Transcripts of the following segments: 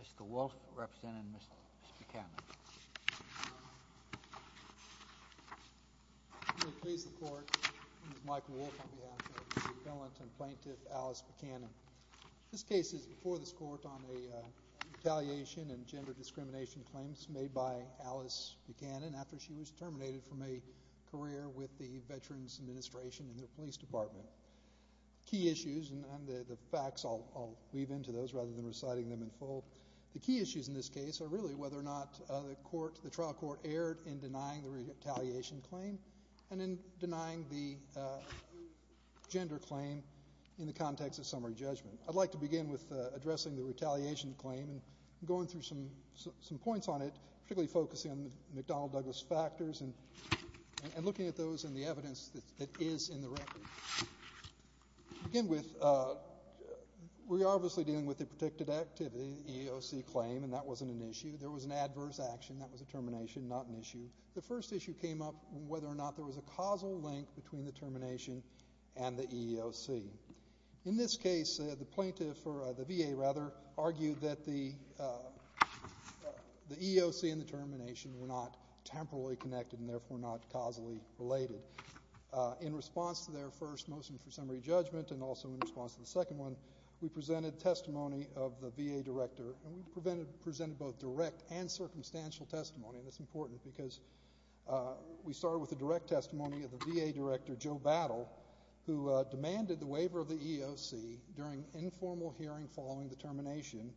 Mr. Wolfe, Representative, Mr. Buchanan. I'm going to please the court. My name is Michael Wolfe on behalf of the appellant and plaintiff, Alice Buchanan. This case is before this court on a retaliation and gender discrimination claims made by Alice Buchanan after she was terminated from a career with the Veterans Administration and their police department. The key issues, and the facts, I'll weave into those rather than reciting them in full. The key issues in this case are really whether or not the trial court erred in denying the retaliation claim and in denying the gender claim in the context of summary judgment. I'd like to begin with addressing the retaliation claim and going through some points on it, particularly focusing on the McDonnell-Douglas factors and looking at those and the evidence that is in the record. To begin with, we are obviously dealing with a protected activity, EEOC claim, and that wasn't an issue. There was an adverse action. That was a termination, not an issue. The first issue came up whether or not there was a causal link between the termination and the EEOC. In this case, the plaintiff, or the VA rather, argued that the EEOC and the termination were not temporally connected and therefore not causally related. In response to their first motion for summary judgment and also in response to the second one, we presented testimony of the VA director, and we presented both direct and circumstantial testimony, and it's important because we started with the direct testimony of the VA director, Joe Battle, who demanded the waiver of the EEOC during informal hearing following the termination,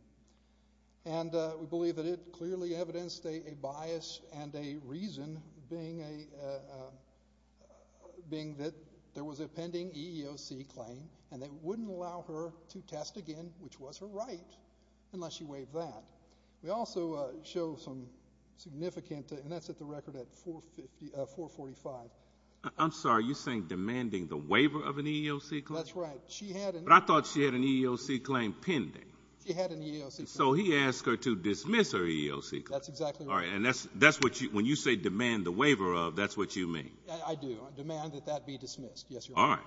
and we believe that it clearly evidenced a bias and a reason being that there was a pending EEOC claim and they wouldn't allow her to test again, which was her right, unless she waived that. We also show some significant, and that's at the record at 445. I'm sorry. You're saying demanding the waiver of an EEOC claim? That's right. But I thought she had an EEOC claim pending. She had an EEOC claim. So he asked her to dismiss her EEOC claim. That's exactly right. All right. And when you say demand the waiver of, that's what you mean? I do. Demand that that be dismissed. Yes, Your Honor. All right.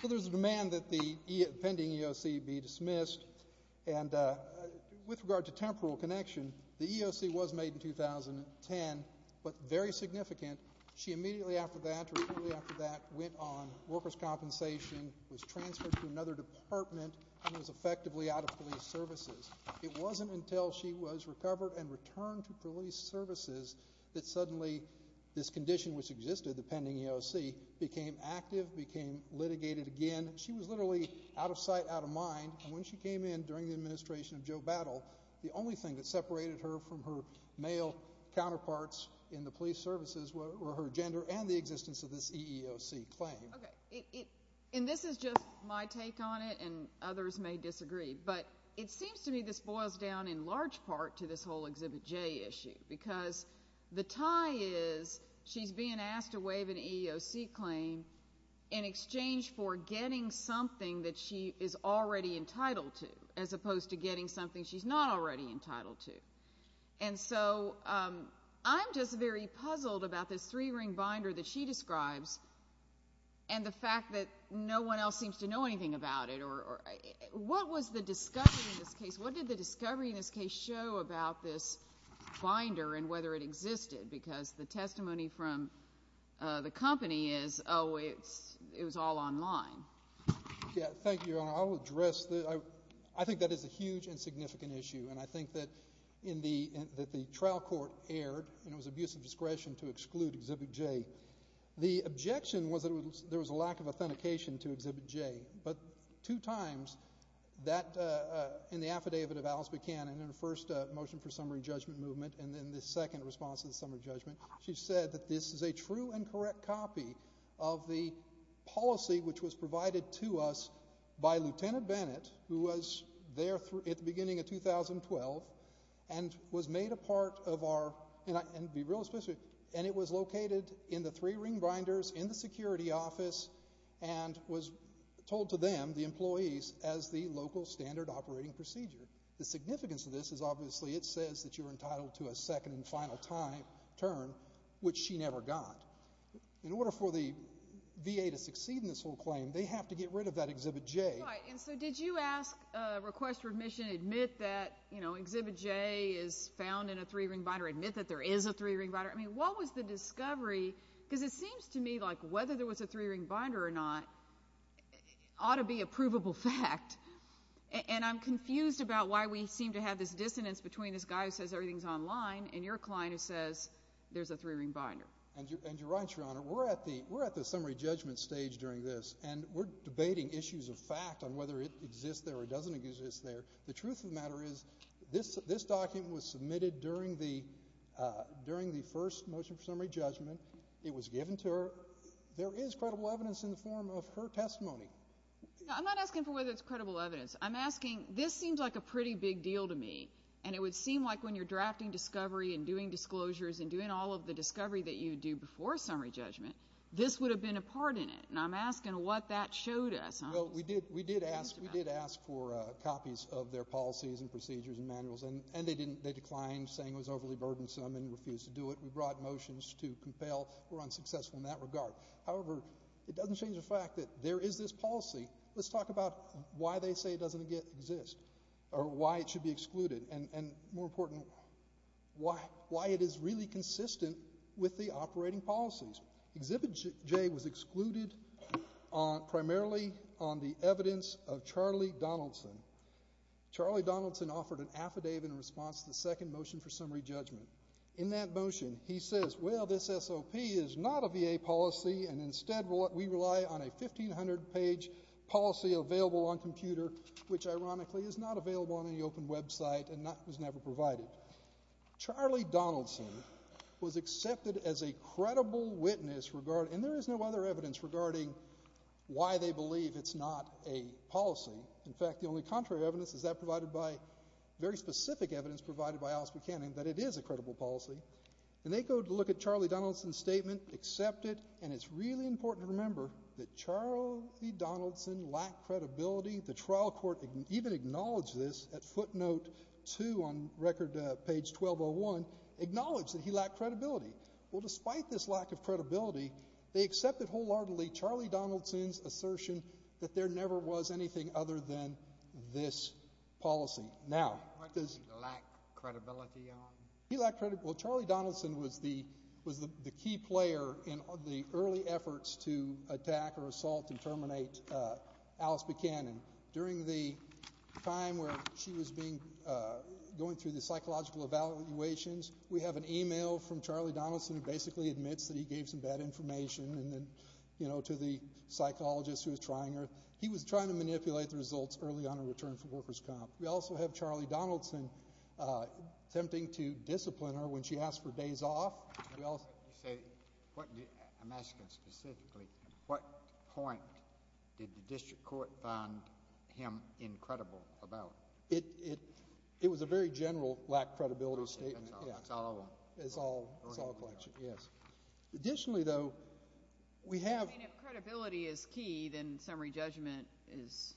So there's a demand that the pending EEOC be dismissed, and with regard to temporal connection, the EEOC was made in 2010, but very significant. She immediately after that or shortly after that went on workers' compensation, was transferred to another department, and was effectively out of police services. It wasn't until she was recovered and returned to police services that suddenly this condition, which existed, the pending EEOC, became active, became litigated again. She was literally out of sight, out of mind. And when she came in during the administration of Joe Battle, the only thing that separated her from her male counterparts in the police services were her gender and the existence of this EEOC claim. Okay. And this is just my take on it, and others may disagree, but it seems to me this boils down in large part to this whole Exhibit J issue because the tie is she's being asked to waive an EEOC claim in exchange for getting something that she is already entitled to as opposed to getting something she's not already entitled to. And so I'm just very puzzled about this three-ring binder that she describes and the fact that no one else seems to know anything about it. What was the discovery in this case? What did the discovery in this case show about this binder and whether it existed? Because the testimony from the company is, oh, it was all online. Yeah. Thank you, Your Honor. I think that is a huge and significant issue, and I think that the trial court erred, and it was abuse of discretion to exclude Exhibit J. The objection was that there was a lack of authentication to Exhibit J, but two times in the affidavit of Alice Buchanan in her first motion for summary judgment movement and then the second response to the summary judgment, she said that this is a true and correct copy of the policy which was provided to us by Lieutenant Bennett, who was there at the beginning of 2012 and was made a part of our and it was located in the three-ring binders in the security office and was told to them, the employees, as the local standard operating procedure. The significance of this is obviously it says that you're entitled to a second and final turn, which she never got. In order for the VA to succeed in this whole claim, they have to get rid of that Exhibit J. Right, and so did you ask, request remission, admit that Exhibit J is found in a three-ring binder, admit that there is a three-ring binder? I mean, what was the discovery? Because it seems to me like whether there was a three-ring binder or not ought to be a provable fact, and I'm confused about why we seem to have this dissonance between this guy who says everything's online and your client who says there's a three-ring binder. And you're right, Your Honor. We're at the summary judgment stage during this, and we're debating issues of fact on whether it exists there or doesn't exist there. The truth of the matter is this document was submitted during the first motion for summary judgment. It was given to her. There is credible evidence in the form of her testimony. I'm not asking for whether it's credible evidence. I'm asking, this seems like a pretty big deal to me, and it would seem like when you're drafting discovery and doing disclosures and doing all of the discovery that you do before summary judgment, this would have been a part in it. And I'm asking what that showed us. Well, we did ask for copies of their policies and procedures and manuals, and they declined saying it was overly burdensome and refused to do it. We brought motions to compel were unsuccessful in that regard. However, it doesn't change the fact that there is this policy. Let's talk about why they say it doesn't exist or why it should be excluded, and more important, why it is really consistent with the operating policies. Exhibit J was excluded primarily on the evidence of Charlie Donaldson. Charlie Donaldson offered an affidavit in response to the second motion for summary judgment. In that motion, he says, well, this SOP is not a VA policy, and instead we rely on a 1,500-page policy available on computer, which ironically is not available on any open website and was never provided. Charlie Donaldson was accepted as a credible witness, and there is no other evidence regarding why they believe it's not a policy. In fact, the only contrary evidence is that provided by very specific evidence provided by Alice Buchanan that it is a credible policy. And they go to look at Charlie Donaldson's statement, accept it, and it's really important to remember that Charlie Donaldson lacked credibility. The trial court even acknowledged this at footnote 2 on record page 1201, acknowledged that he lacked credibility. Well, despite this lack of credibility, they accepted wholeheartedly Charlie Donaldson's assertion that there never was anything other than this policy. What did he lack credibility on? Well, Charlie Donaldson was the key player in the early efforts to attack or assault and terminate Alice Buchanan. During the time where she was going through the psychological evaluations, we have an e-mail from Charlie Donaldson who basically admits that he gave some bad information to the psychologist who was trying her. He was trying to manipulate the results early on in return for workers' comp. We also have Charlie Donaldson attempting to discipline her when she asked for days off. I'm asking specifically at what point did the district court find him incredible about it? It was a very general lack of credibility statement. That's all of them? That's all of them, yes. Additionally, though, we have— I mean, if credibility is key, then summary judgment is—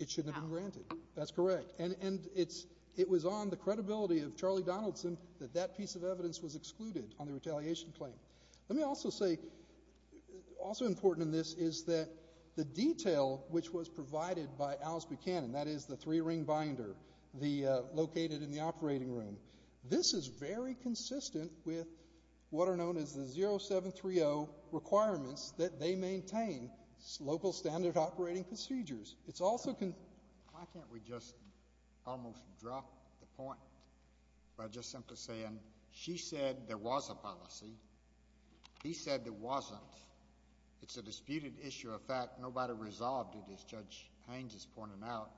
It shouldn't have been granted. That's correct. And it was on the credibility of Charlie Donaldson that that piece of evidence was excluded on the retaliation claim. Let me also say, also important in this is that the detail which was provided by Alice Buchanan, that is the three-ring binder located in the operating room, this is very consistent with what are known as the 0730 requirements that they maintain local standard operating procedures. It's also— Why can't we just almost drop the point by just simply saying she said there was a policy. He said there wasn't. It's a disputed issue of fact. Nobody resolved it, as Judge Haines has pointed out.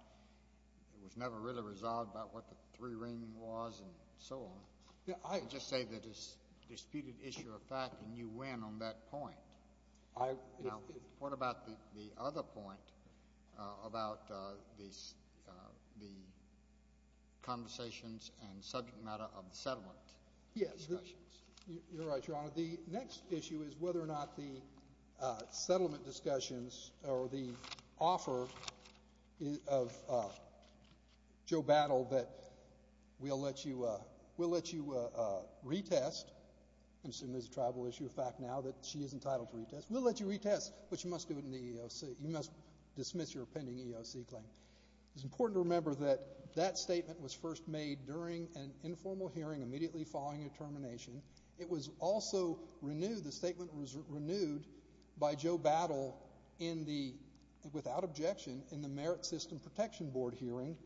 It was never really resolved about what the three-ring was and so on. I just say that it's a disputed issue of fact, and you win on that point. Now, what about the other point about the conversations and subject matter of the settlement discussions? You're right, Your Honor. The next issue is whether or not the settlement discussions or the offer of Joe Battle that we'll let you retest, I assume there's a tribal issue of fact now that she is entitled to retest. We'll let you retest, but you must do it in the EEOC. You must dismiss your pending EEOC claim. It's important to remember that that statement was first made during an informal hearing immediately following a termination. It was also renewed, the statement was renewed by Joe Battle in the, without objection, in the Merit System Protection Board hearing,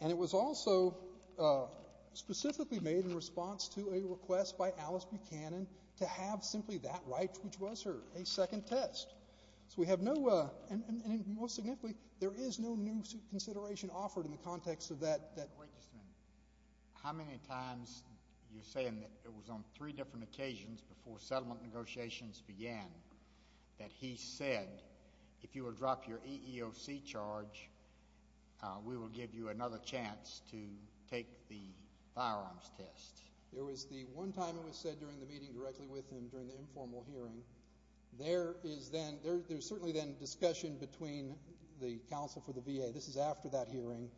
and it was also specifically made in response to a request by Alice Buchanan to have simply that right, which was her, a second test. So we have no, and most significantly, there is no new consideration offered in the context of that. Wait just a minute. How many times are you saying that it was on three different occasions before settlement negotiations began that he said, if you will drop your EEOC charge, we will give you another chance to take the firearms test? There was the one time it was said during the meeting directly with him during the informal hearing. There is then, there's certainly then discussion between the counsel for the VA. This is after that hearing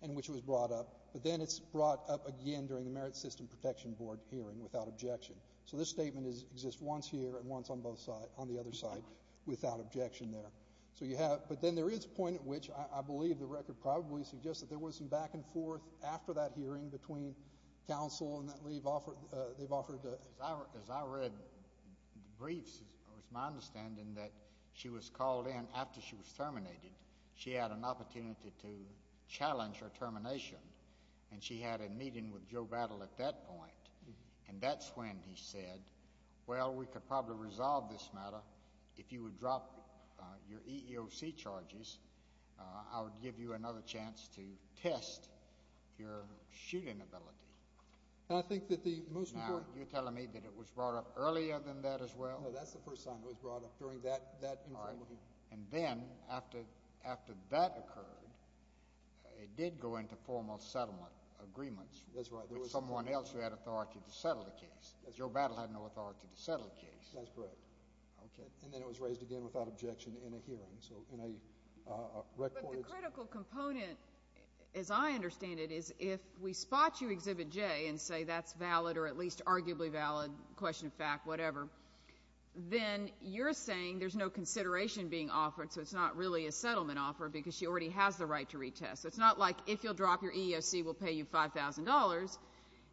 in which it was brought up, but then it's brought up again during the Merit System Protection Board hearing without objection. So this statement exists once here and once on both sides, on the other side, without objection there. So you have, but then there is a point at which I believe the record probably suggests that there was some back and forth after that hearing between counsel and that they've offered. As I read briefs, it was my understanding that she was called in after she was terminated. She had an opportunity to challenge her termination, and she had a meeting with Joe Battle at that point, and that's when he said, well, we could probably resolve this matter. If you would drop your EEOC charges, I would give you another chance to test your shooting ability. And I think that the most important— Now, you're telling me that it was brought up earlier than that as well? No, that's the first time it was brought up during that informal hearing. And then after that occurred, it did go into formal settlement agreements. That's right. With someone else who had authority to settle the case. Joe Battle had no authority to settle the case. That's correct. And then it was raised again without objection in a hearing. But the critical component, as I understand it, is if we spot you, Exhibit J, and say that's valid or at least arguably valid, question of fact, whatever, then you're saying there's no consideration being offered, so it's not really a settlement offer because she already has the right to retest. It's not like if you'll drop your EEOC, we'll pay you $5,000.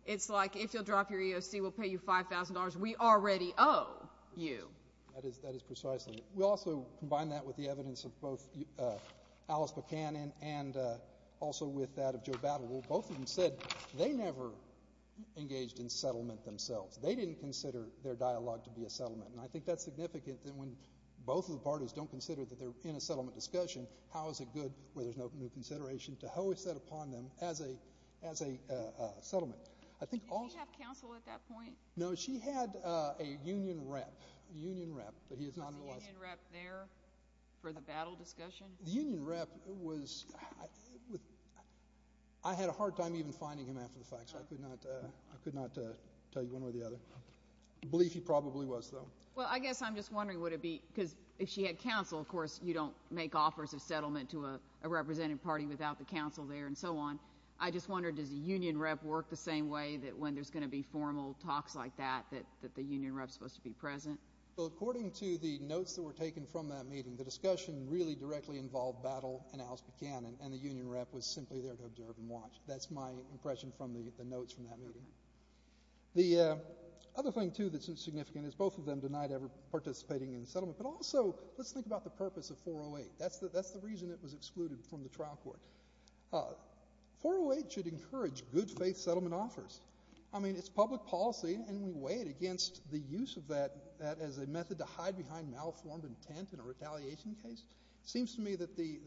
It's like if you'll drop your EEOC, we'll pay you $5,000. We already owe you. That is precisely it. We also combine that with the evidence of both Alice Buchanan and also with that of Joe Battle, who both of them said they never engaged in settlement themselves. They didn't consider their dialogue to be a settlement. And I think that's significant that when both of the parties don't consider that they're in a settlement discussion, how is it good where there's no new consideration to hoist that upon them as a settlement? Did she have counsel at that point? No, she had a union rep. Was the union rep there for the Battle discussion? The union rep was – I had a hard time even finding him after the fact, so I could not tell you one way or the other. I believe he probably was, though. Well, I guess I'm just wondering would it be – because if she had counsel, of course, you don't make offers of settlement to a representative party without the counsel there and so on. I just wonder, does the union rep work the same way that when there's going to be formal talks like that, that the union rep is supposed to be present? Well, according to the notes that were taken from that meeting, the discussion really directly involved Battle and Alice Buchanan, and the union rep was simply there to observe and watch. That's my impression from the notes from that meeting. The other thing, too, that's significant is both of them denied ever participating in the settlement. But also, let's think about the purpose of 408. That's the reason it was excluded from the trial court. 408 should encourage good-faith settlement offers. I mean, it's public policy, and we weigh it against the use of that as a method to hide behind malformed intent in a retaliation case. It seems to me that the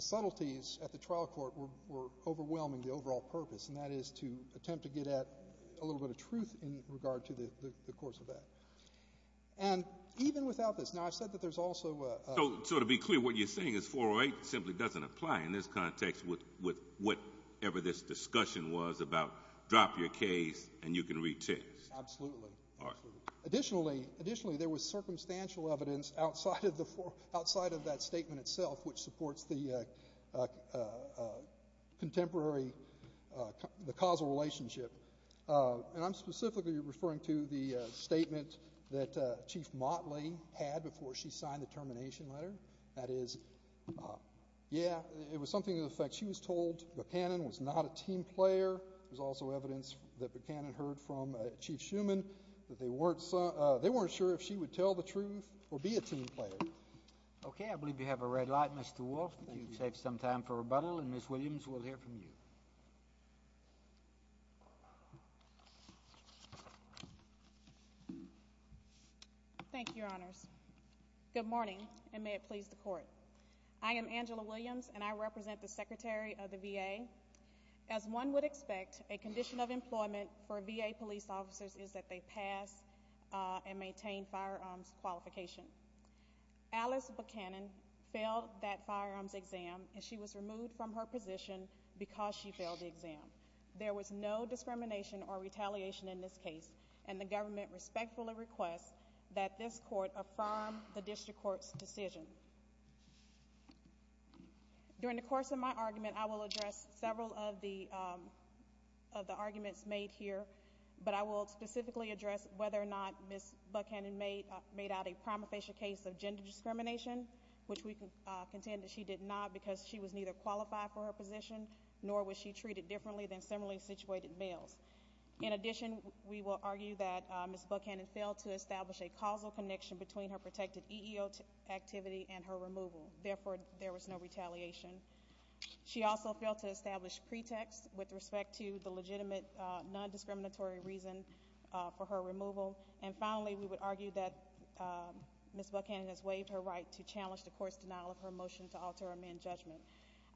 subtleties at the trial court were overwhelming the overall purpose, and that is to attempt to get at a little bit of truth in regard to the course of that. And even without this, now I've said that there's also ‑‑ So to be clear, what you're saying is 408 simply doesn't apply in this context with whatever this discussion was about drop your case and you can retest. Absolutely. Additionally, there was circumstantial evidence outside of that statement itself, which supports the contemporary causal relationship. And I'm specifically referring to the statement that Chief Motley had before she signed the termination letter. That is, yeah, it was something to the effect she was told Buchanan was not a team player. There was also evidence that Buchanan heard from Chief Shuman that they weren't sure if she would tell the truth or be a team player. Okay, I believe you have a red light, Mr. Wolf. Thank you. You've saved some time for rebuttal, and Ms. Williams, we'll hear from you. Thank you, Your Honors. Good morning, and may it please the Court. I am Angela Williams, and I represent the Secretary of the VA. As one would expect, a condition of employment for VA police officers is that they pass and maintain firearms qualification. Alice Buchanan failed that firearms exam, and she was removed from her position because she failed the exam. There was no discrimination or retaliation in this case, and the government respectfully requests that this Court affirm the district court's decision. During the course of my argument, I will address several of the arguments made here, but I will specifically address whether or not Ms. Buchanan made out a prima facie case of gender discrimination, which we contend that she did not because she was neither qualified for her position nor was she treated differently than similarly situated males. In addition, we will argue that Ms. Buchanan failed to establish a causal connection between her protected EEO activity and her removal. Therefore, there was no retaliation. She also failed to establish pretext with respect to the legitimate non-discriminatory reason for her removal. And finally, we would argue that Ms. Buchanan has waived her right to challenge the Court's denial of her motion to alter a man's judgment.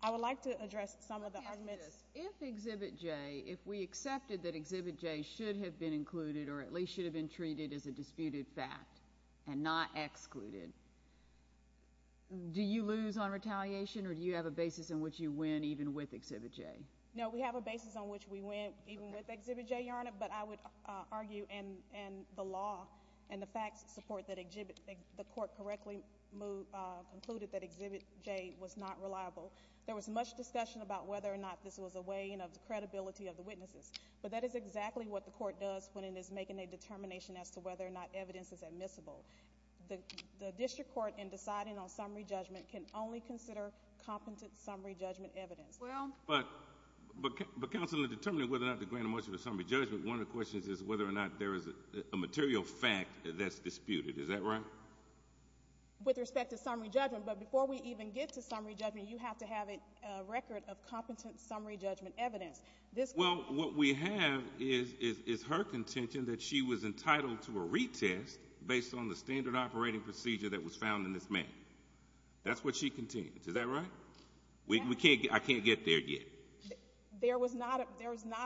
I would like to address some of the arguments. If Exhibit J, if we accepted that Exhibit J should have been included or at least should have been treated as a disputed fact and not excluded, do you lose on retaliation or do you have a basis on which you win even with Exhibit J? No, we have a basis on which we win even with Exhibit J, Your Honor, but I would argue in the law and the facts support that the Court correctly concluded that Exhibit J was not reliable. There was much discussion about whether or not this was a weighing of the credibility of the witnesses, but that is exactly what the Court does when it is making a determination as to whether or not evidence is admissible. The District Court, in deciding on summary judgment, can only consider competent summary judgment evidence. But, Counsel, in determining whether or not to grant a motion for summary judgment, one of the questions is whether or not there is a material fact that's disputed. Is that right? With respect to summary judgment, but before we even get to summary judgment, you have to have a record of competent summary judgment evidence. Well, what we have is her contention that she was entitled to a retest based on the standard operating procedure that was found in this manual. That's what she contends. Is that right? Yes. I can't get there yet. There was not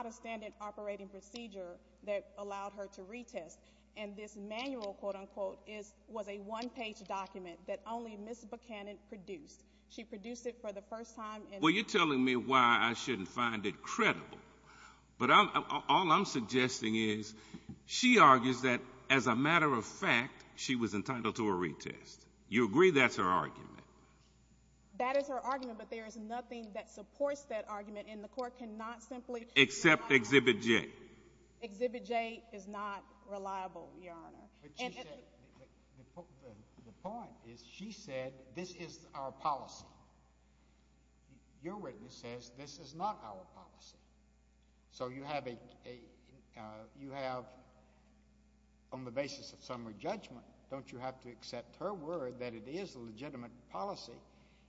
a standard operating procedure that allowed her to retest, and this manual, quote, unquote, was a one-page document that only Ms. Buchanan produced. She produced it for the first time. Well, you're telling me why I shouldn't find it credible. But all I'm suggesting is she argues that, as a matter of fact, she was entitled to a retest. You agree that's her argument? That is her argument, but there is nothing that supports that argument, and the Court cannot simply rely on that. Except Exhibit J. Exhibit J is not reliable, Your Honor. The point is she said this is our policy. Your witness says this is not our policy. So you have, on the basis of summary judgment, don't you have to accept her word that it is a legitimate policy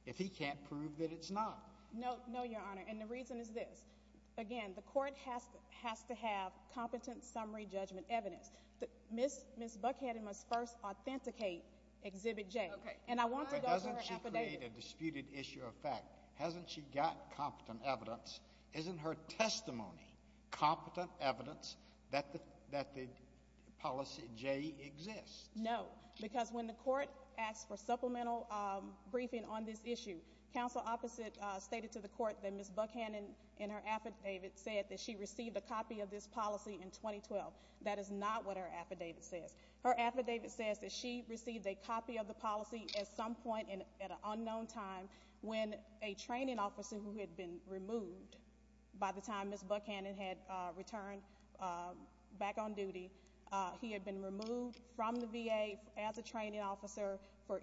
if he can't prove that it's not? No, Your Honor, and the reason is this. Again, the Court has to have competent summary judgment evidence. Ms. Buchanan must first authenticate Exhibit J. Okay. But doesn't she create a disputed issue of fact? Hasn't she got competent evidence? Isn't her testimony competent evidence that the policy J exists? No, because when the Court asked for supplemental briefing on this issue, counsel opposite stated to the Court that Ms. Buchanan, in her affidavit, said that she received a copy of this policy in 2012. That is not what her affidavit says. Her affidavit says that she received a copy of the policy at some point at an unknown time when a training officer who had been removed by the time Ms. Buchanan had returned back on duty, he had been removed from the VA as a training officer for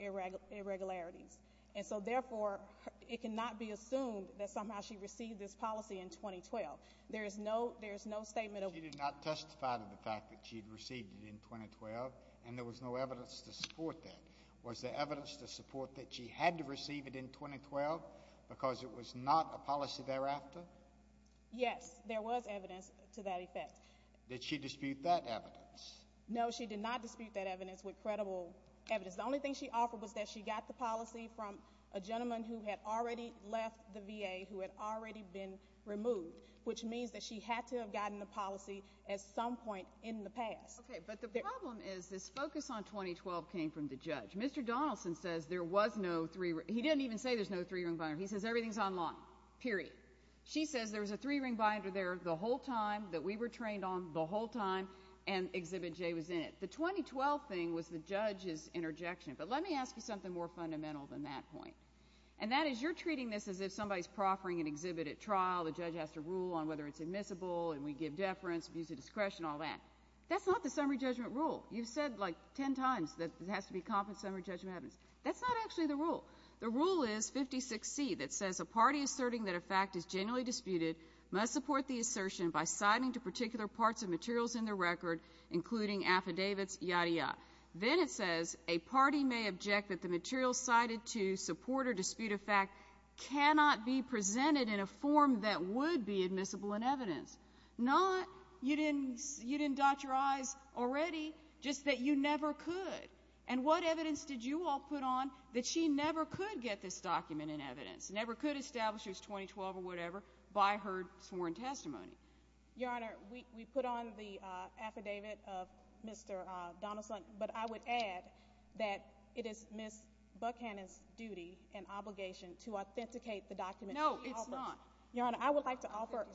irregularities. And so, therefore, it cannot be assumed that somehow she received this policy in 2012. There is no statement of... She did not testify to the fact that she had received it in 2012, and there was no evidence to support that. Was there evidence to support that she had to receive it in 2012 because it was not a policy thereafter? Yes, there was evidence to that effect. Did she dispute that evidence? No, she did not dispute that evidence with credible evidence. The only thing she offered was that she got the policy from a gentleman who had already left the VA, who had already been removed, which means that she had to have gotten the policy at some point in the past. Okay, but the problem is this focus on 2012 came from the judge. Mr. Donaldson says there was no three-ring... He didn't even say there was no three-ring binder. He says everything is online, period. She says there was a three-ring binder there the whole time that we were trained on, the whole time, and Exhibit J was in it. The 2012 thing was the judge's interjection, but let me ask you something more fundamental than that point, and that is you're treating this as if somebody is proffering an exhibit at trial, the judge has to rule on whether it's admissible, and we give deference, abuse of discretion, all that. That's not the summary judgment rule. You've said, like, ten times that it has to be a confident summary judgment. That's not actually the rule. The rule is 56C that says a party asserting that a fact is genuinely disputed must support the assertion by citing to particular parts of materials in the record, including affidavits, yada, yada. Then it says a party may object that the material cited to support or dispute a fact cannot be presented in a form that would be admissible in evidence. Not you didn't dot your I's already, just that you never could. And what evidence did you all put on that she never could get this document in evidence, never could establish it was 2012 or whatever by her sworn testimony? Your Honor, we put on the affidavit of Mr. Donaldson, but I would add that it is Ms. Buckhannon's duty and obligation to authenticate the document. No, it's not. Your Honor, I would like to offer.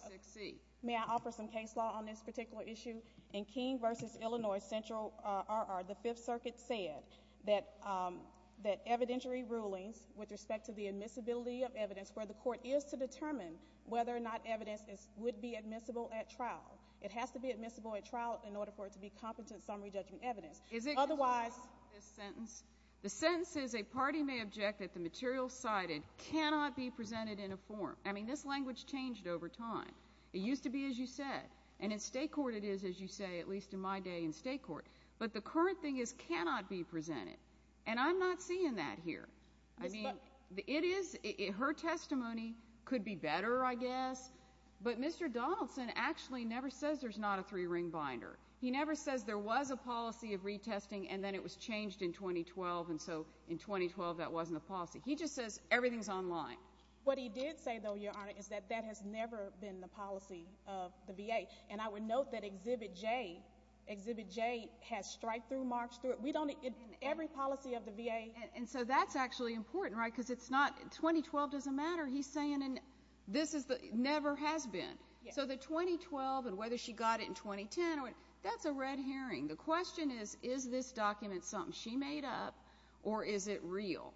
56C. May I offer some case law on this particular issue? In King v. Illinois Central RR, the Fifth Circuit said that evidentiary rulings with respect to the admissibility of evidence where the court is to determine whether or not evidence would be admissible at trial. It has to be admissible at trial in order for it to be competent summary judgment evidence. Is it? Otherwise. The sentence is a party may object that the material cited cannot be presented in a form. I mean, this language changed over time. It used to be, as you said, and in state court it is, as you say, at least in my day in state court. But the current thing is cannot be presented, and I'm not seeing that here. I mean, it is, her testimony could be better, I guess, but Mr. Donaldson actually never says there's not a three-ring binder. He never says there was a policy of retesting and then it was changed in 2012, and so in 2012 that wasn't a policy. He just says everything's online. What he did say, though, Your Honor, is that that has never been the policy of the VA, and I would note that Exhibit J, Exhibit J has strikethrough marks through it. We don't, in every policy of the VA. And so that's actually important, right, because it's not 2012 doesn't matter. He's saying this never has been. So the 2012 and whether she got it in 2010, that's a red herring. The question is, is this document something she made up or is it real?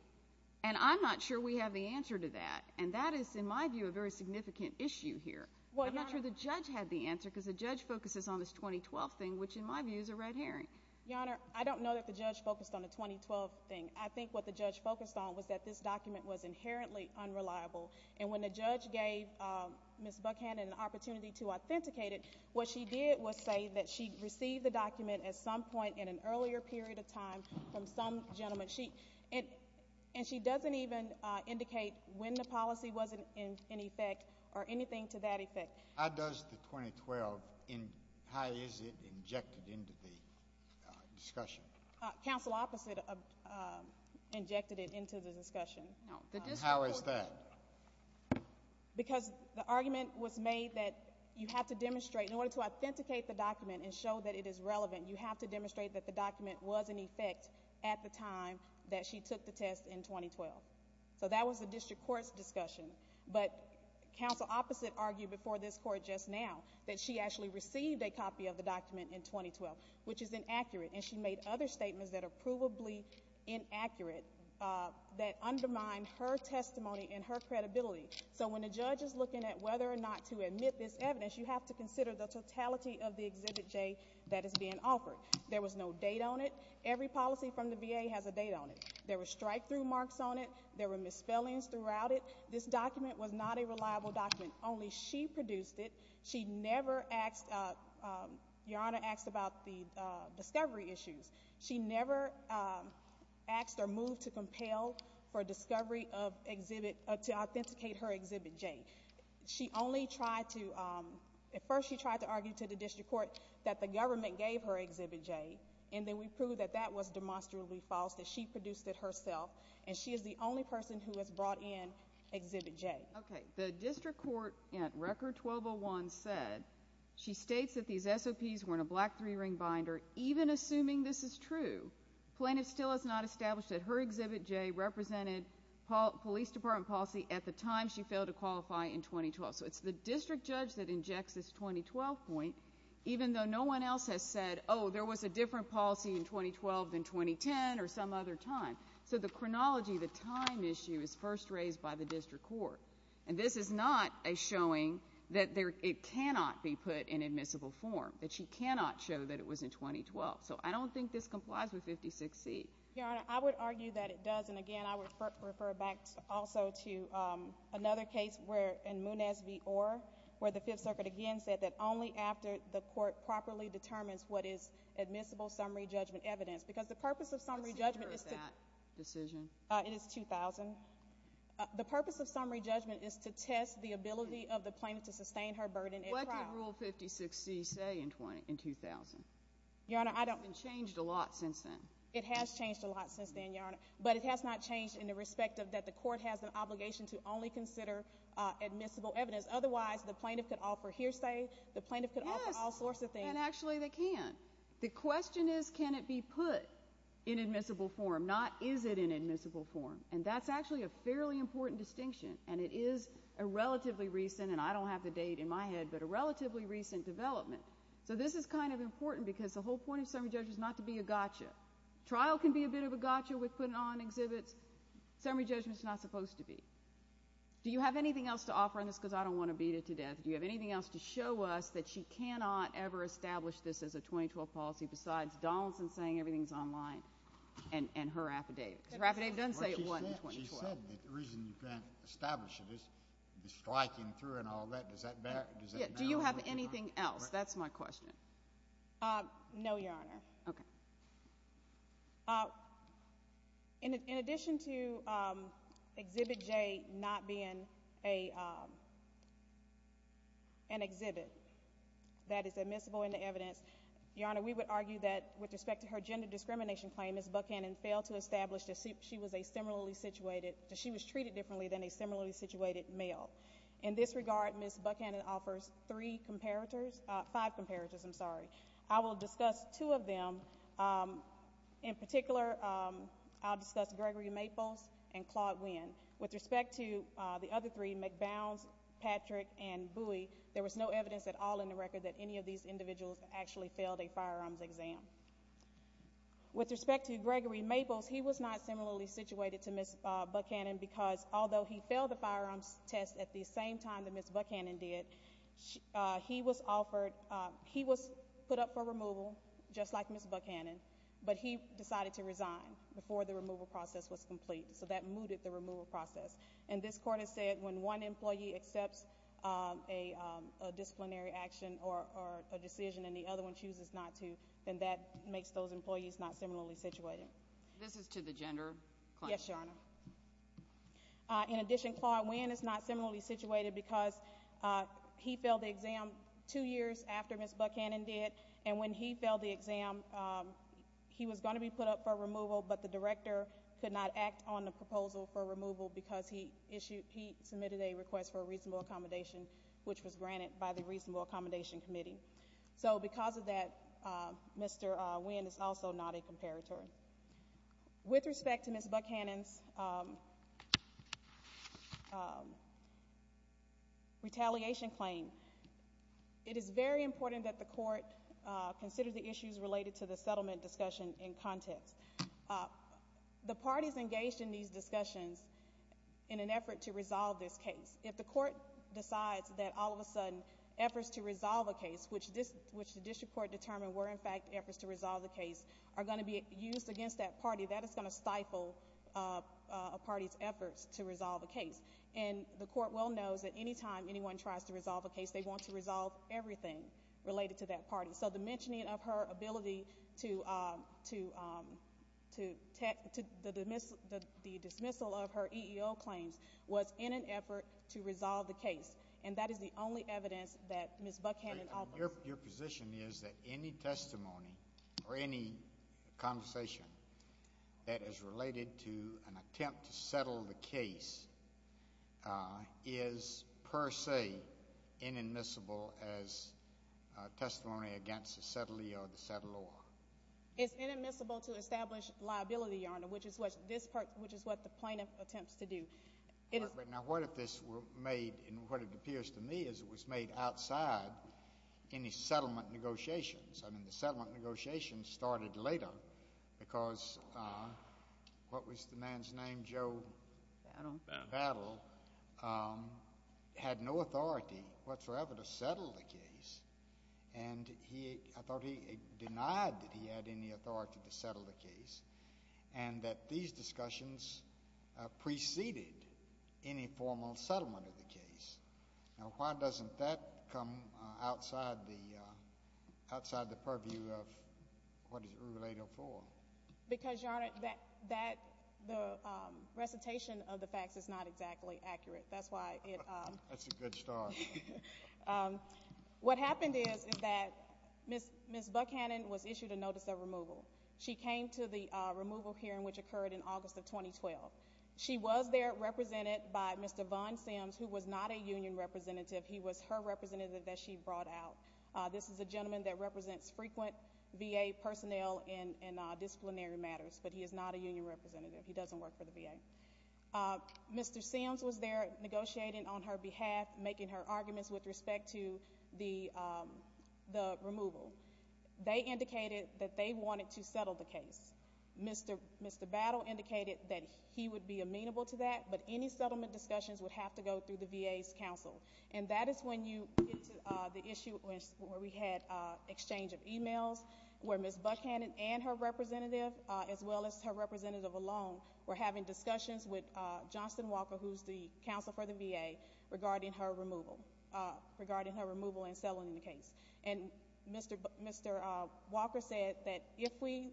And I'm not sure we have the answer to that, and that is, in my view, a very significant issue here. I'm not sure the judge had the answer because the judge focuses on this 2012 thing, which in my view is a red herring. Your Honor, I don't know that the judge focused on the 2012 thing. I think what the judge focused on was that this document was inherently unreliable, and when the judge gave Ms. Buckhand an opportunity to authenticate it, what she did was say that she received the document at some point in an earlier period of time from some gentleman, and she doesn't even indicate when the policy was in effect or anything to that effect. How does the 2012, how is it injected into the discussion? Counsel opposite injected it into the discussion. How is that? Because the argument was made that you have to demonstrate, in order to authenticate the document and show that it is relevant, you have to demonstrate that the document was in effect at the time that she took the test in 2012. So that was the district court's discussion. But counsel opposite argued before this court just now that she actually received a copy of the document in 2012, which is inaccurate, and she made other statements that are provably inaccurate that undermine her testimony and her credibility. So when a judge is looking at whether or not to admit this evidence, you have to consider the totality of the Exhibit J that is being offered. There was no date on it. Every policy from the VA has a date on it. There were strikethrough marks on it. There were misspellings throughout it. This document was not a reliable document. Only she produced it. She never asked, Your Honor, asked about the discovery issues. She never asked or moved to compel for discovery of Exhibit, to authenticate her Exhibit J. She only tried to, at first she tried to argue to the district court that the government gave her Exhibit J, and then we proved that that was demonstrably false, that she produced it herself. And she is the only person who has brought in Exhibit J. Okay. The district court at Record 1201 said she states that these SOPs were in a black three-ring binder. Even assuming this is true, Plaintiff still has not established that her Exhibit J represented police department policy at the time she failed to qualify in 2012. So it's the district judge that injects this 2012 point, even though no one else has said, Oh, there was a different policy in 2012 than 2010 or some other time. So the chronology, the time issue is first raised by the district court. And this is not a showing that it cannot be put in admissible form, that she cannot show that it was in 2012. So I don't think this complies with 56C. Your Honor, I would argue that it does. And, again, I would refer back also to another case where in Muniz v. Orr, where the Fifth Circuit again said that only after the court properly determines what is admissible summary judgment evidence, because the purpose of summary judgment is to It is 2000. The purpose of summary judgment is to test the ability of the plaintiff to sustain her burden at trial. What did Rule 56C say in 2000? Your Honor, I don't It hasn't changed a lot since then. It has changed a lot since then, Your Honor. But it has not changed in the respect that the court has an obligation to only consider admissible evidence. Otherwise, the plaintiff could offer hearsay, the plaintiff could offer all sorts of things. Yes, and actually they can. The question is can it be put in admissible form, not is it in admissible form? And that's actually a fairly important distinction, and it is a relatively recent, and I don't have the date in my head, but a relatively recent development. So this is kind of important because the whole point of summary judgment is not to be a gotcha. Trial can be a bit of a gotcha with putting on exhibits. Summary judgment is not supposed to be. Do you have anything else to offer on this? Because I don't want to beat it to death. Do you have anything else to show us that she cannot ever establish this as a 2012 policy besides Donaldson saying everything is online and her affidavit? Because her affidavit doesn't say it wasn't in 2012. She said that the reason you can't establish it is striking through and all that. Does that bear? Do you have anything else? That's my question. No, Your Honor. Okay. In addition to Exhibit J not being an exhibit that is admissible in the evidence, Your Honor, we would argue that with respect to her gender discrimination claim, Ms. Buchanan failed to establish that she was treated differently than a similarly situated male. In this regard, Ms. Buchanan offers five comparators. I'm sorry. I will discuss two of them. In particular, I'll discuss Gregory Maples and Claude Winn. With respect to the other three, McBowns, Patrick, and Bui, there was no evidence at all in the record that any of these individuals actually failed a firearms exam. With respect to Gregory Maples, he was not similarly situated to Ms. Buchanan because although he failed the firearms test at the same time that Ms. Buchanan did, he was put up for removal just like Ms. Buchanan, but he decided to resign before the removal process was complete, so that mooted the removal process. And this Court has said when one employee accepts a disciplinary action or a decision and the other one chooses not to, then that makes those employees not similarly situated. Yes, Your Honor. In addition, Claude Winn is not similarly situated because he failed the exam two years after Ms. Buchanan did, and when he failed the exam, he was going to be put up for removal, but the director could not act on the proposal for removal because he submitted a request for a reasonable accommodation, which was granted by the Reasonable Accommodation Committee. So because of that, Mr. Winn is also not a comparator. With respect to Ms. Buchanan's retaliation claim, it is very important that the Court consider the issues related to the settlement discussion in context. The parties engaged in these discussions in an effort to resolve this case, if the Court decides that all of a sudden efforts to resolve a case, which the district court determined were in fact efforts to resolve the case, are going to be used against that party, that is going to stifle a party's efforts to resolve a case. And the Court well knows that any time anyone tries to resolve a case, they want to resolve everything related to that party. So the mentioning of her ability to the dismissal of her EEO claims was in an effort to resolve the case, and that is the only evidence that Ms. Buchanan offers. Your position is that any testimony or any conversation that is related to an attempt to settle the case is per se inadmissible as testimony against the settler or the settler. It's inadmissible to establish liability, Your Honor, which is what the plaintiff attempts to do. Now, what if this were made, and what it appears to me is it was made outside any settlement negotiations? I mean, the settlement negotiations started later because what was the man's name? Joe Battle had no authority whatsoever to settle the case, and I thought he denied that he had any authority to settle the case, and that these discussions preceded any formal settlement of the case. Now, why doesn't that come outside the purview of what is it related for? Because, Your Honor, the recitation of the facts is not exactly accurate. That's a good start. What happened is that Ms. Buchanan was issued a notice of removal. She came to the removal hearing, which occurred in August of 2012. She was there represented by Mr. Von Sims, who was not a union representative. He was her representative that she brought out. This is a gentleman that represents frequent VA personnel in disciplinary matters, but he is not a union representative. He doesn't work for the VA. Mr. Sims was there negotiating on her behalf, making her arguments with respect to the removal. They indicated that they wanted to settle the case. Mr. Battle indicated that he would be amenable to that, but any settlement discussions would have to go through the VA's counsel, and that is when you get to the issue where we had exchange of e-mails, where Ms. Buchanan and her representative, as well as her representative alone, were having discussions with Johnston Walker, who is the counsel for the VA, regarding her removal and settling the case. And Mr. Walker said that if we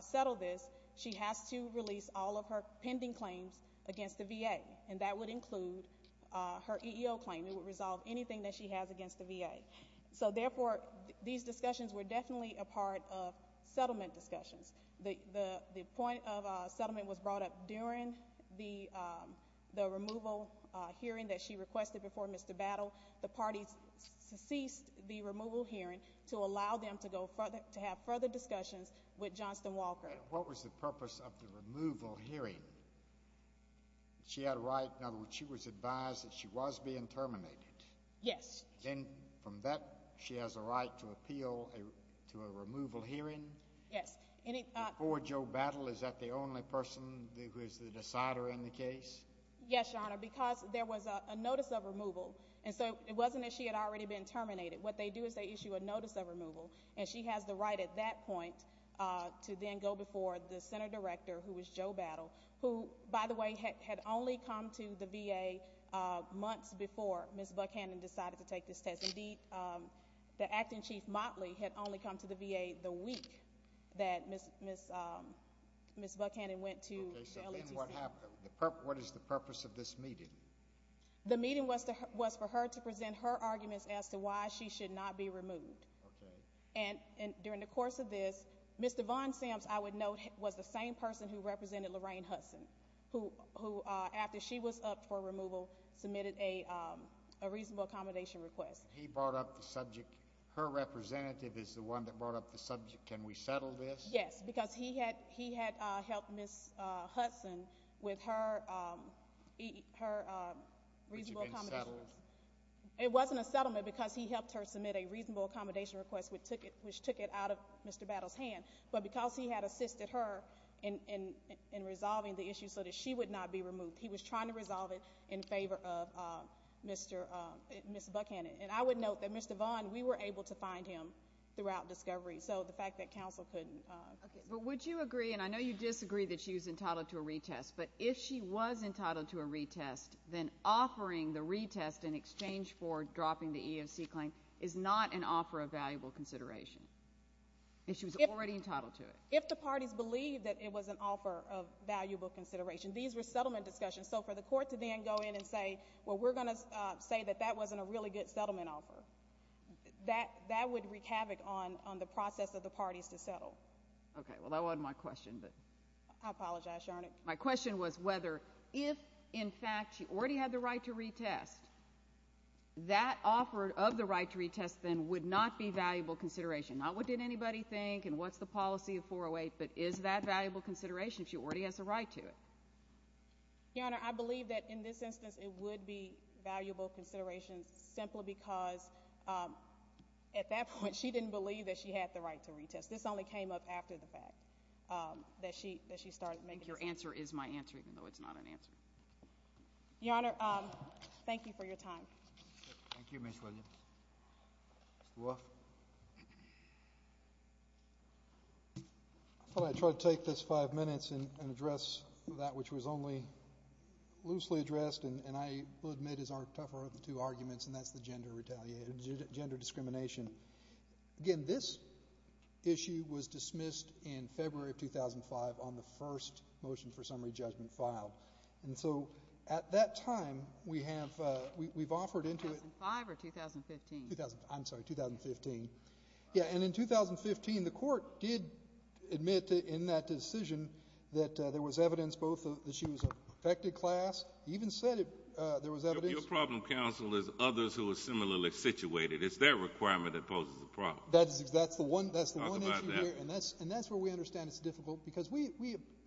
settle this, she has to release all of her pending claims against the VA, and that would include her EEO claim. It would resolve anything that she has against the VA. So, therefore, these discussions were definitely a part of settlement discussions. The point of settlement was brought up during the removal hearing that she requested before Mr. Battle. The parties ceased the removal hearing to allow them to have further discussions with Johnston Walker. And what was the purpose of the removal hearing? She had a right, in other words, she was advised that she was being terminated. Yes. And from that, she has a right to appeal to a removal hearing? Yes. Before Joe Battle, is that the only person who is the decider in the case? Yes, Your Honor, because there was a notice of removal, and so it wasn't that she had already been terminated. What they do is they issue a notice of removal, and she has the right at that point to then go before the center director, who is Joe Battle, who, by the way, had only come to the VA months before Ms. Buckhannon decided to take this test. Indeed, the acting chief Motley had only come to the VA the week that Ms. Buckhannon went to LHC. Okay, so then what happened? What is the purpose of this meeting? The meeting was for her to present her arguments as to why she should not be removed. Okay. And during the course of this, Mr. Von Sams, I would note, was the same person who represented Lorraine Hudson, who, after she was upped for removal, submitted a reasonable accommodation request. He brought up the subject. Her representative is the one that brought up the subject. Can we settle this? Yes, because he had helped Ms. Hudson with her reasonable accommodation request. But you didn't settle it? It wasn't a settlement because he helped her submit a reasonable accommodation request, which took it out of Mr. Battle's hand. But because he had assisted her in resolving the issue so that she would not be removed, he was trying to resolve it in favor of Ms. Buckhannon. And I would note that Mr. Von, we were able to find him throughout discovery, so the fact that counsel couldn't. But would you agree, and I know you disagree that she was entitled to a retest, but if she was entitled to a retest, then offering the retest in exchange for dropping the EOC claim is not an offer of valuable consideration. She was already entitled to it. If the parties believe that it was an offer of valuable consideration, these were settlement discussions. So for the court to then go in and say, well, we're going to say that that wasn't a really good settlement offer, that would wreak havoc on the process of the parties to settle. Okay. Well, that wasn't my question. I apologize, Your Honor. My question was whether if, in fact, she already had the right to retest, that offer of the right to retest then would not be valuable consideration. Not what did anybody think and what's the policy of 408, but is that valuable consideration if she already has a right to it? Your Honor, I believe that in this instance it would be valuable consideration simply because at that point she didn't believe that she had the right to retest. This only came up after the fact, that she started making the decision. Your answer is my answer, even though it's not an answer. Your Honor, thank you for your time. Thank you, Ms. Williams. Wolf. I thought I'd try to take this five minutes and address that which was only loosely addressed, and I will admit is our tougher of the two arguments, and that's the gender retaliation, gender discrimination. Again, this issue was dismissed in February of 2005 on the first motion for summary judgment file. And so at that time we have offered into it. 2005 or 2015? I'm sorry, 2015. Yeah, and in 2015 the court did admit in that decision that there was evidence both that she was a perfected class, even said there was evidence. Your problem counsel is others who are similarly situated. It's their requirement that poses a problem. That's the one issue here, and that's where we understand it's difficult, because we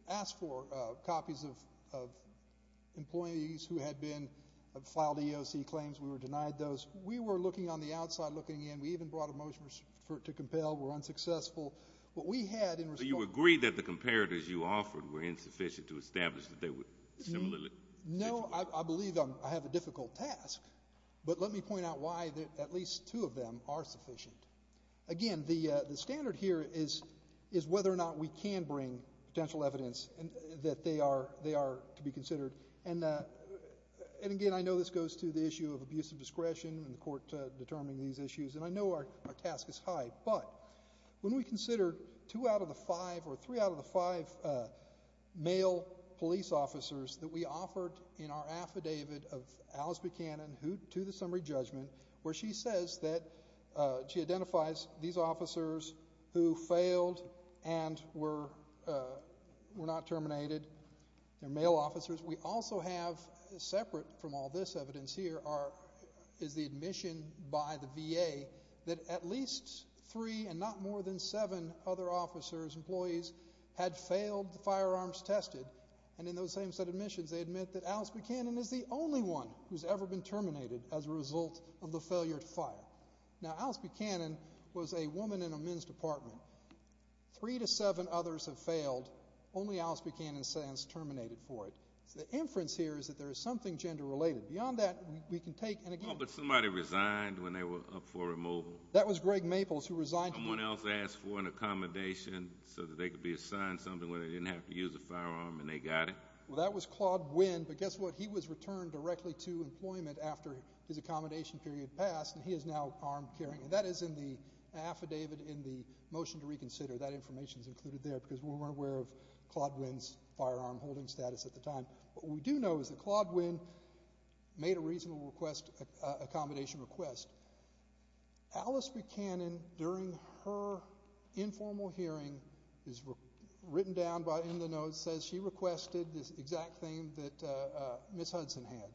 asked for copies of employees who had filed EEOC claims. We were denied those. We were looking on the outside, looking in. We even brought a motion to compel. We were unsuccessful. What we had in response. So you agree that the comparators you offered were insufficient to establish that they were similarly situated? No, I believe I have a difficult task, but let me point out why at least two of them are sufficient. Again, the standard here is whether or not we can bring potential evidence that they are to be considered. And again, I know this goes to the issue of abuse of discretion and the court determining these issues, and I know our task is high, but when we consider two out of the five or three out of the five male police officers that we offered in our affidavit of Alice Buchanan to the summary judgment, where she says that she identifies these officers who failed and were not terminated. They're male officers. We also have separate from all this evidence here is the admission by the VA that at least three and not more than seven other officers, employees, had failed the firearms tested, and in those same set of admissions they admit that Alice Buchanan is the only one who's ever been terminated as a result of the failure to file. Now, Alice Buchanan was a woman in a men's department. Three to seven others have failed. Only Alice Buchanan stands terminated for it. So the inference here is that there is something gender related. Beyond that, we can take and again. Oh, but somebody resigned when they were up for removal. That was Greg Maples who resigned. Someone else asked for an accommodation so that they could be assigned something when they didn't have to use a firearm and they got it. Well, that was Claude Winn, but guess what? He was returned directly to employment after his accommodation period passed, and he is now armed, carrying. And that is in the affidavit in the motion to reconsider. That information is included there because we weren't aware of Claude Winn's firearm holding status at the time. What we do know is that Claude Winn made a reasonable accommodation request. Alice Buchanan, during her informal hearing, is written down in the notes, says she requested this exact thing that Ms. Hudson had.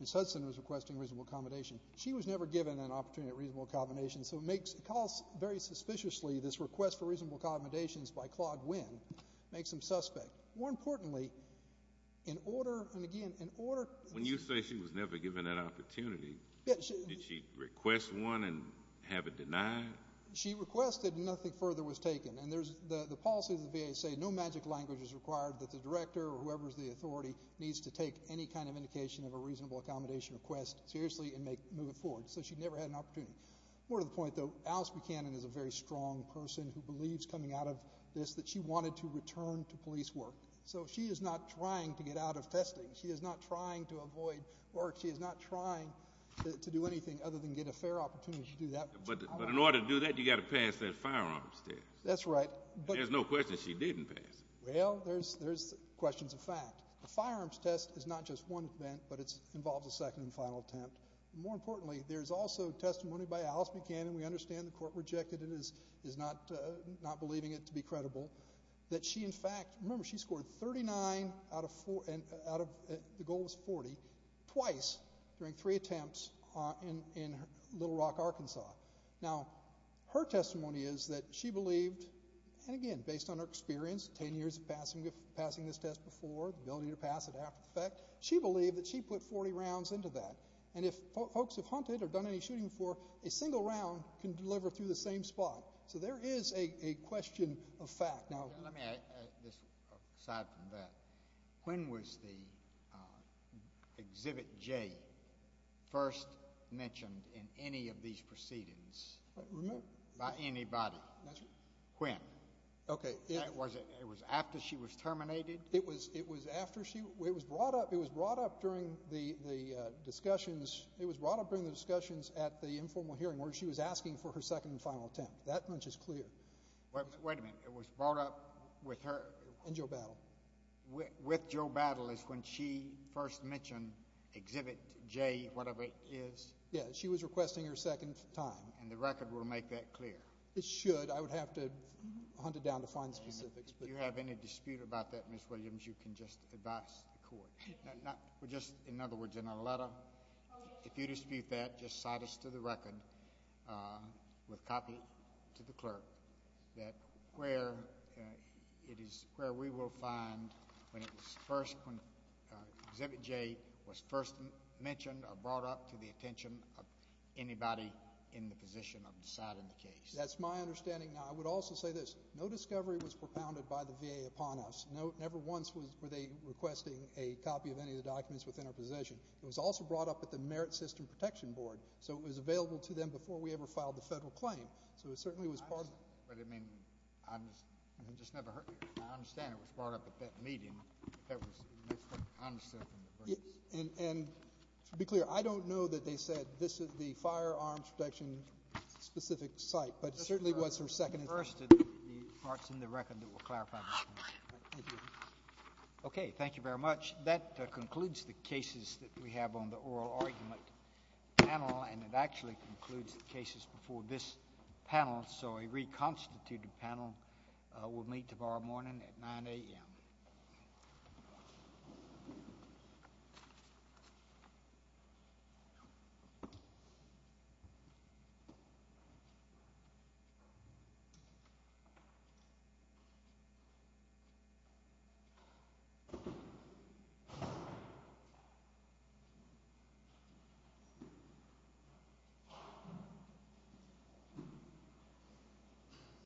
Ms. Hudson was requesting reasonable accommodation. She was never given an opportunity at reasonable accommodation, so it calls very suspiciously this request for reasonable accommodations by Claude Winn. It makes them suspect. More importantly, in order, and again, in order. When you say she was never given an opportunity, did she request one and have it denied? She requested and nothing further was taken. And the policy of the VA says no magic language is required that the director or whoever is the authority needs to take any kind of indication of a reasonable accommodation request seriously and move it forward, so she never had an opportunity. More to the point, though, Alice Buchanan is a very strong person who believes coming out of this that she wanted to return to police work, so she is not trying to get out of testing. She is not trying to avoid work. She is not trying to do anything other than get a fair opportunity to do that. But in order to do that, you've got to pass that firearms test. That's right. There's no question she didn't pass it. Well, there's questions of fact. The firearms test is not just one event, but it involves a second and final attempt. More importantly, there's also testimony by Alice Buchanan, we understand the court rejected it and is not believing it to be credible, that she in fact, remember she scored 39 out of 40, the goal was 40, twice during three attempts in Little Rock, Arkansas. Now, her testimony is that she believed, and again, based on her experience, 10 years of passing this test before, ability to pass it after the fact, she believed that she put 40 rounds into that. And if folks have hunted or done any shooting before, a single round can deliver through the same spot. So there is a question of fact. Let me add this aside from that. When was the Exhibit J first mentioned in any of these proceedings by anybody? That's right. When? Okay. Was it after she was terminated? It was brought up during the discussions. It was brought up during the discussions at the informal hearing where she was asking for her second and final attempt. That much is clear. Wait a minute. It was brought up with her? And Joe Battle. With Joe Battle is when she first mentioned Exhibit J, whatever it is? Yes. She was requesting her second time. And the record will make that clear? It should. I would have to hunt it down to find specifics. If you have any dispute about that, Ms. Williams, you can just advise the court. In other words, in a letter, if you dispute that, just cite us to the record with copy to the clerk that where we will find when Exhibit J was first mentioned or brought up to the attention of anybody in the position of deciding the case. That's my understanding. I would also say this. No discovery was propounded by the VA upon us. Never once were they requesting a copy of any of the documents within our possession. It was also brought up at the Merit System Protection Board, so it was available to them before we ever filed the federal claim. So it certainly was part of it. But, I mean, I just never heard it. I understand it was brought up at that meeting. That's what I understand from the records. And to be clear, I don't know that they said this is the firearms protection specific site, but it certainly was her second. The first of the parts in the record that will clarify this. Thank you. Okay. Thank you very much. That concludes the cases that we have on the oral argument panel, and it actually concludes the cases before this panel. So a reconstituted panel will meet tomorrow morning at 9 a.m. Thank you.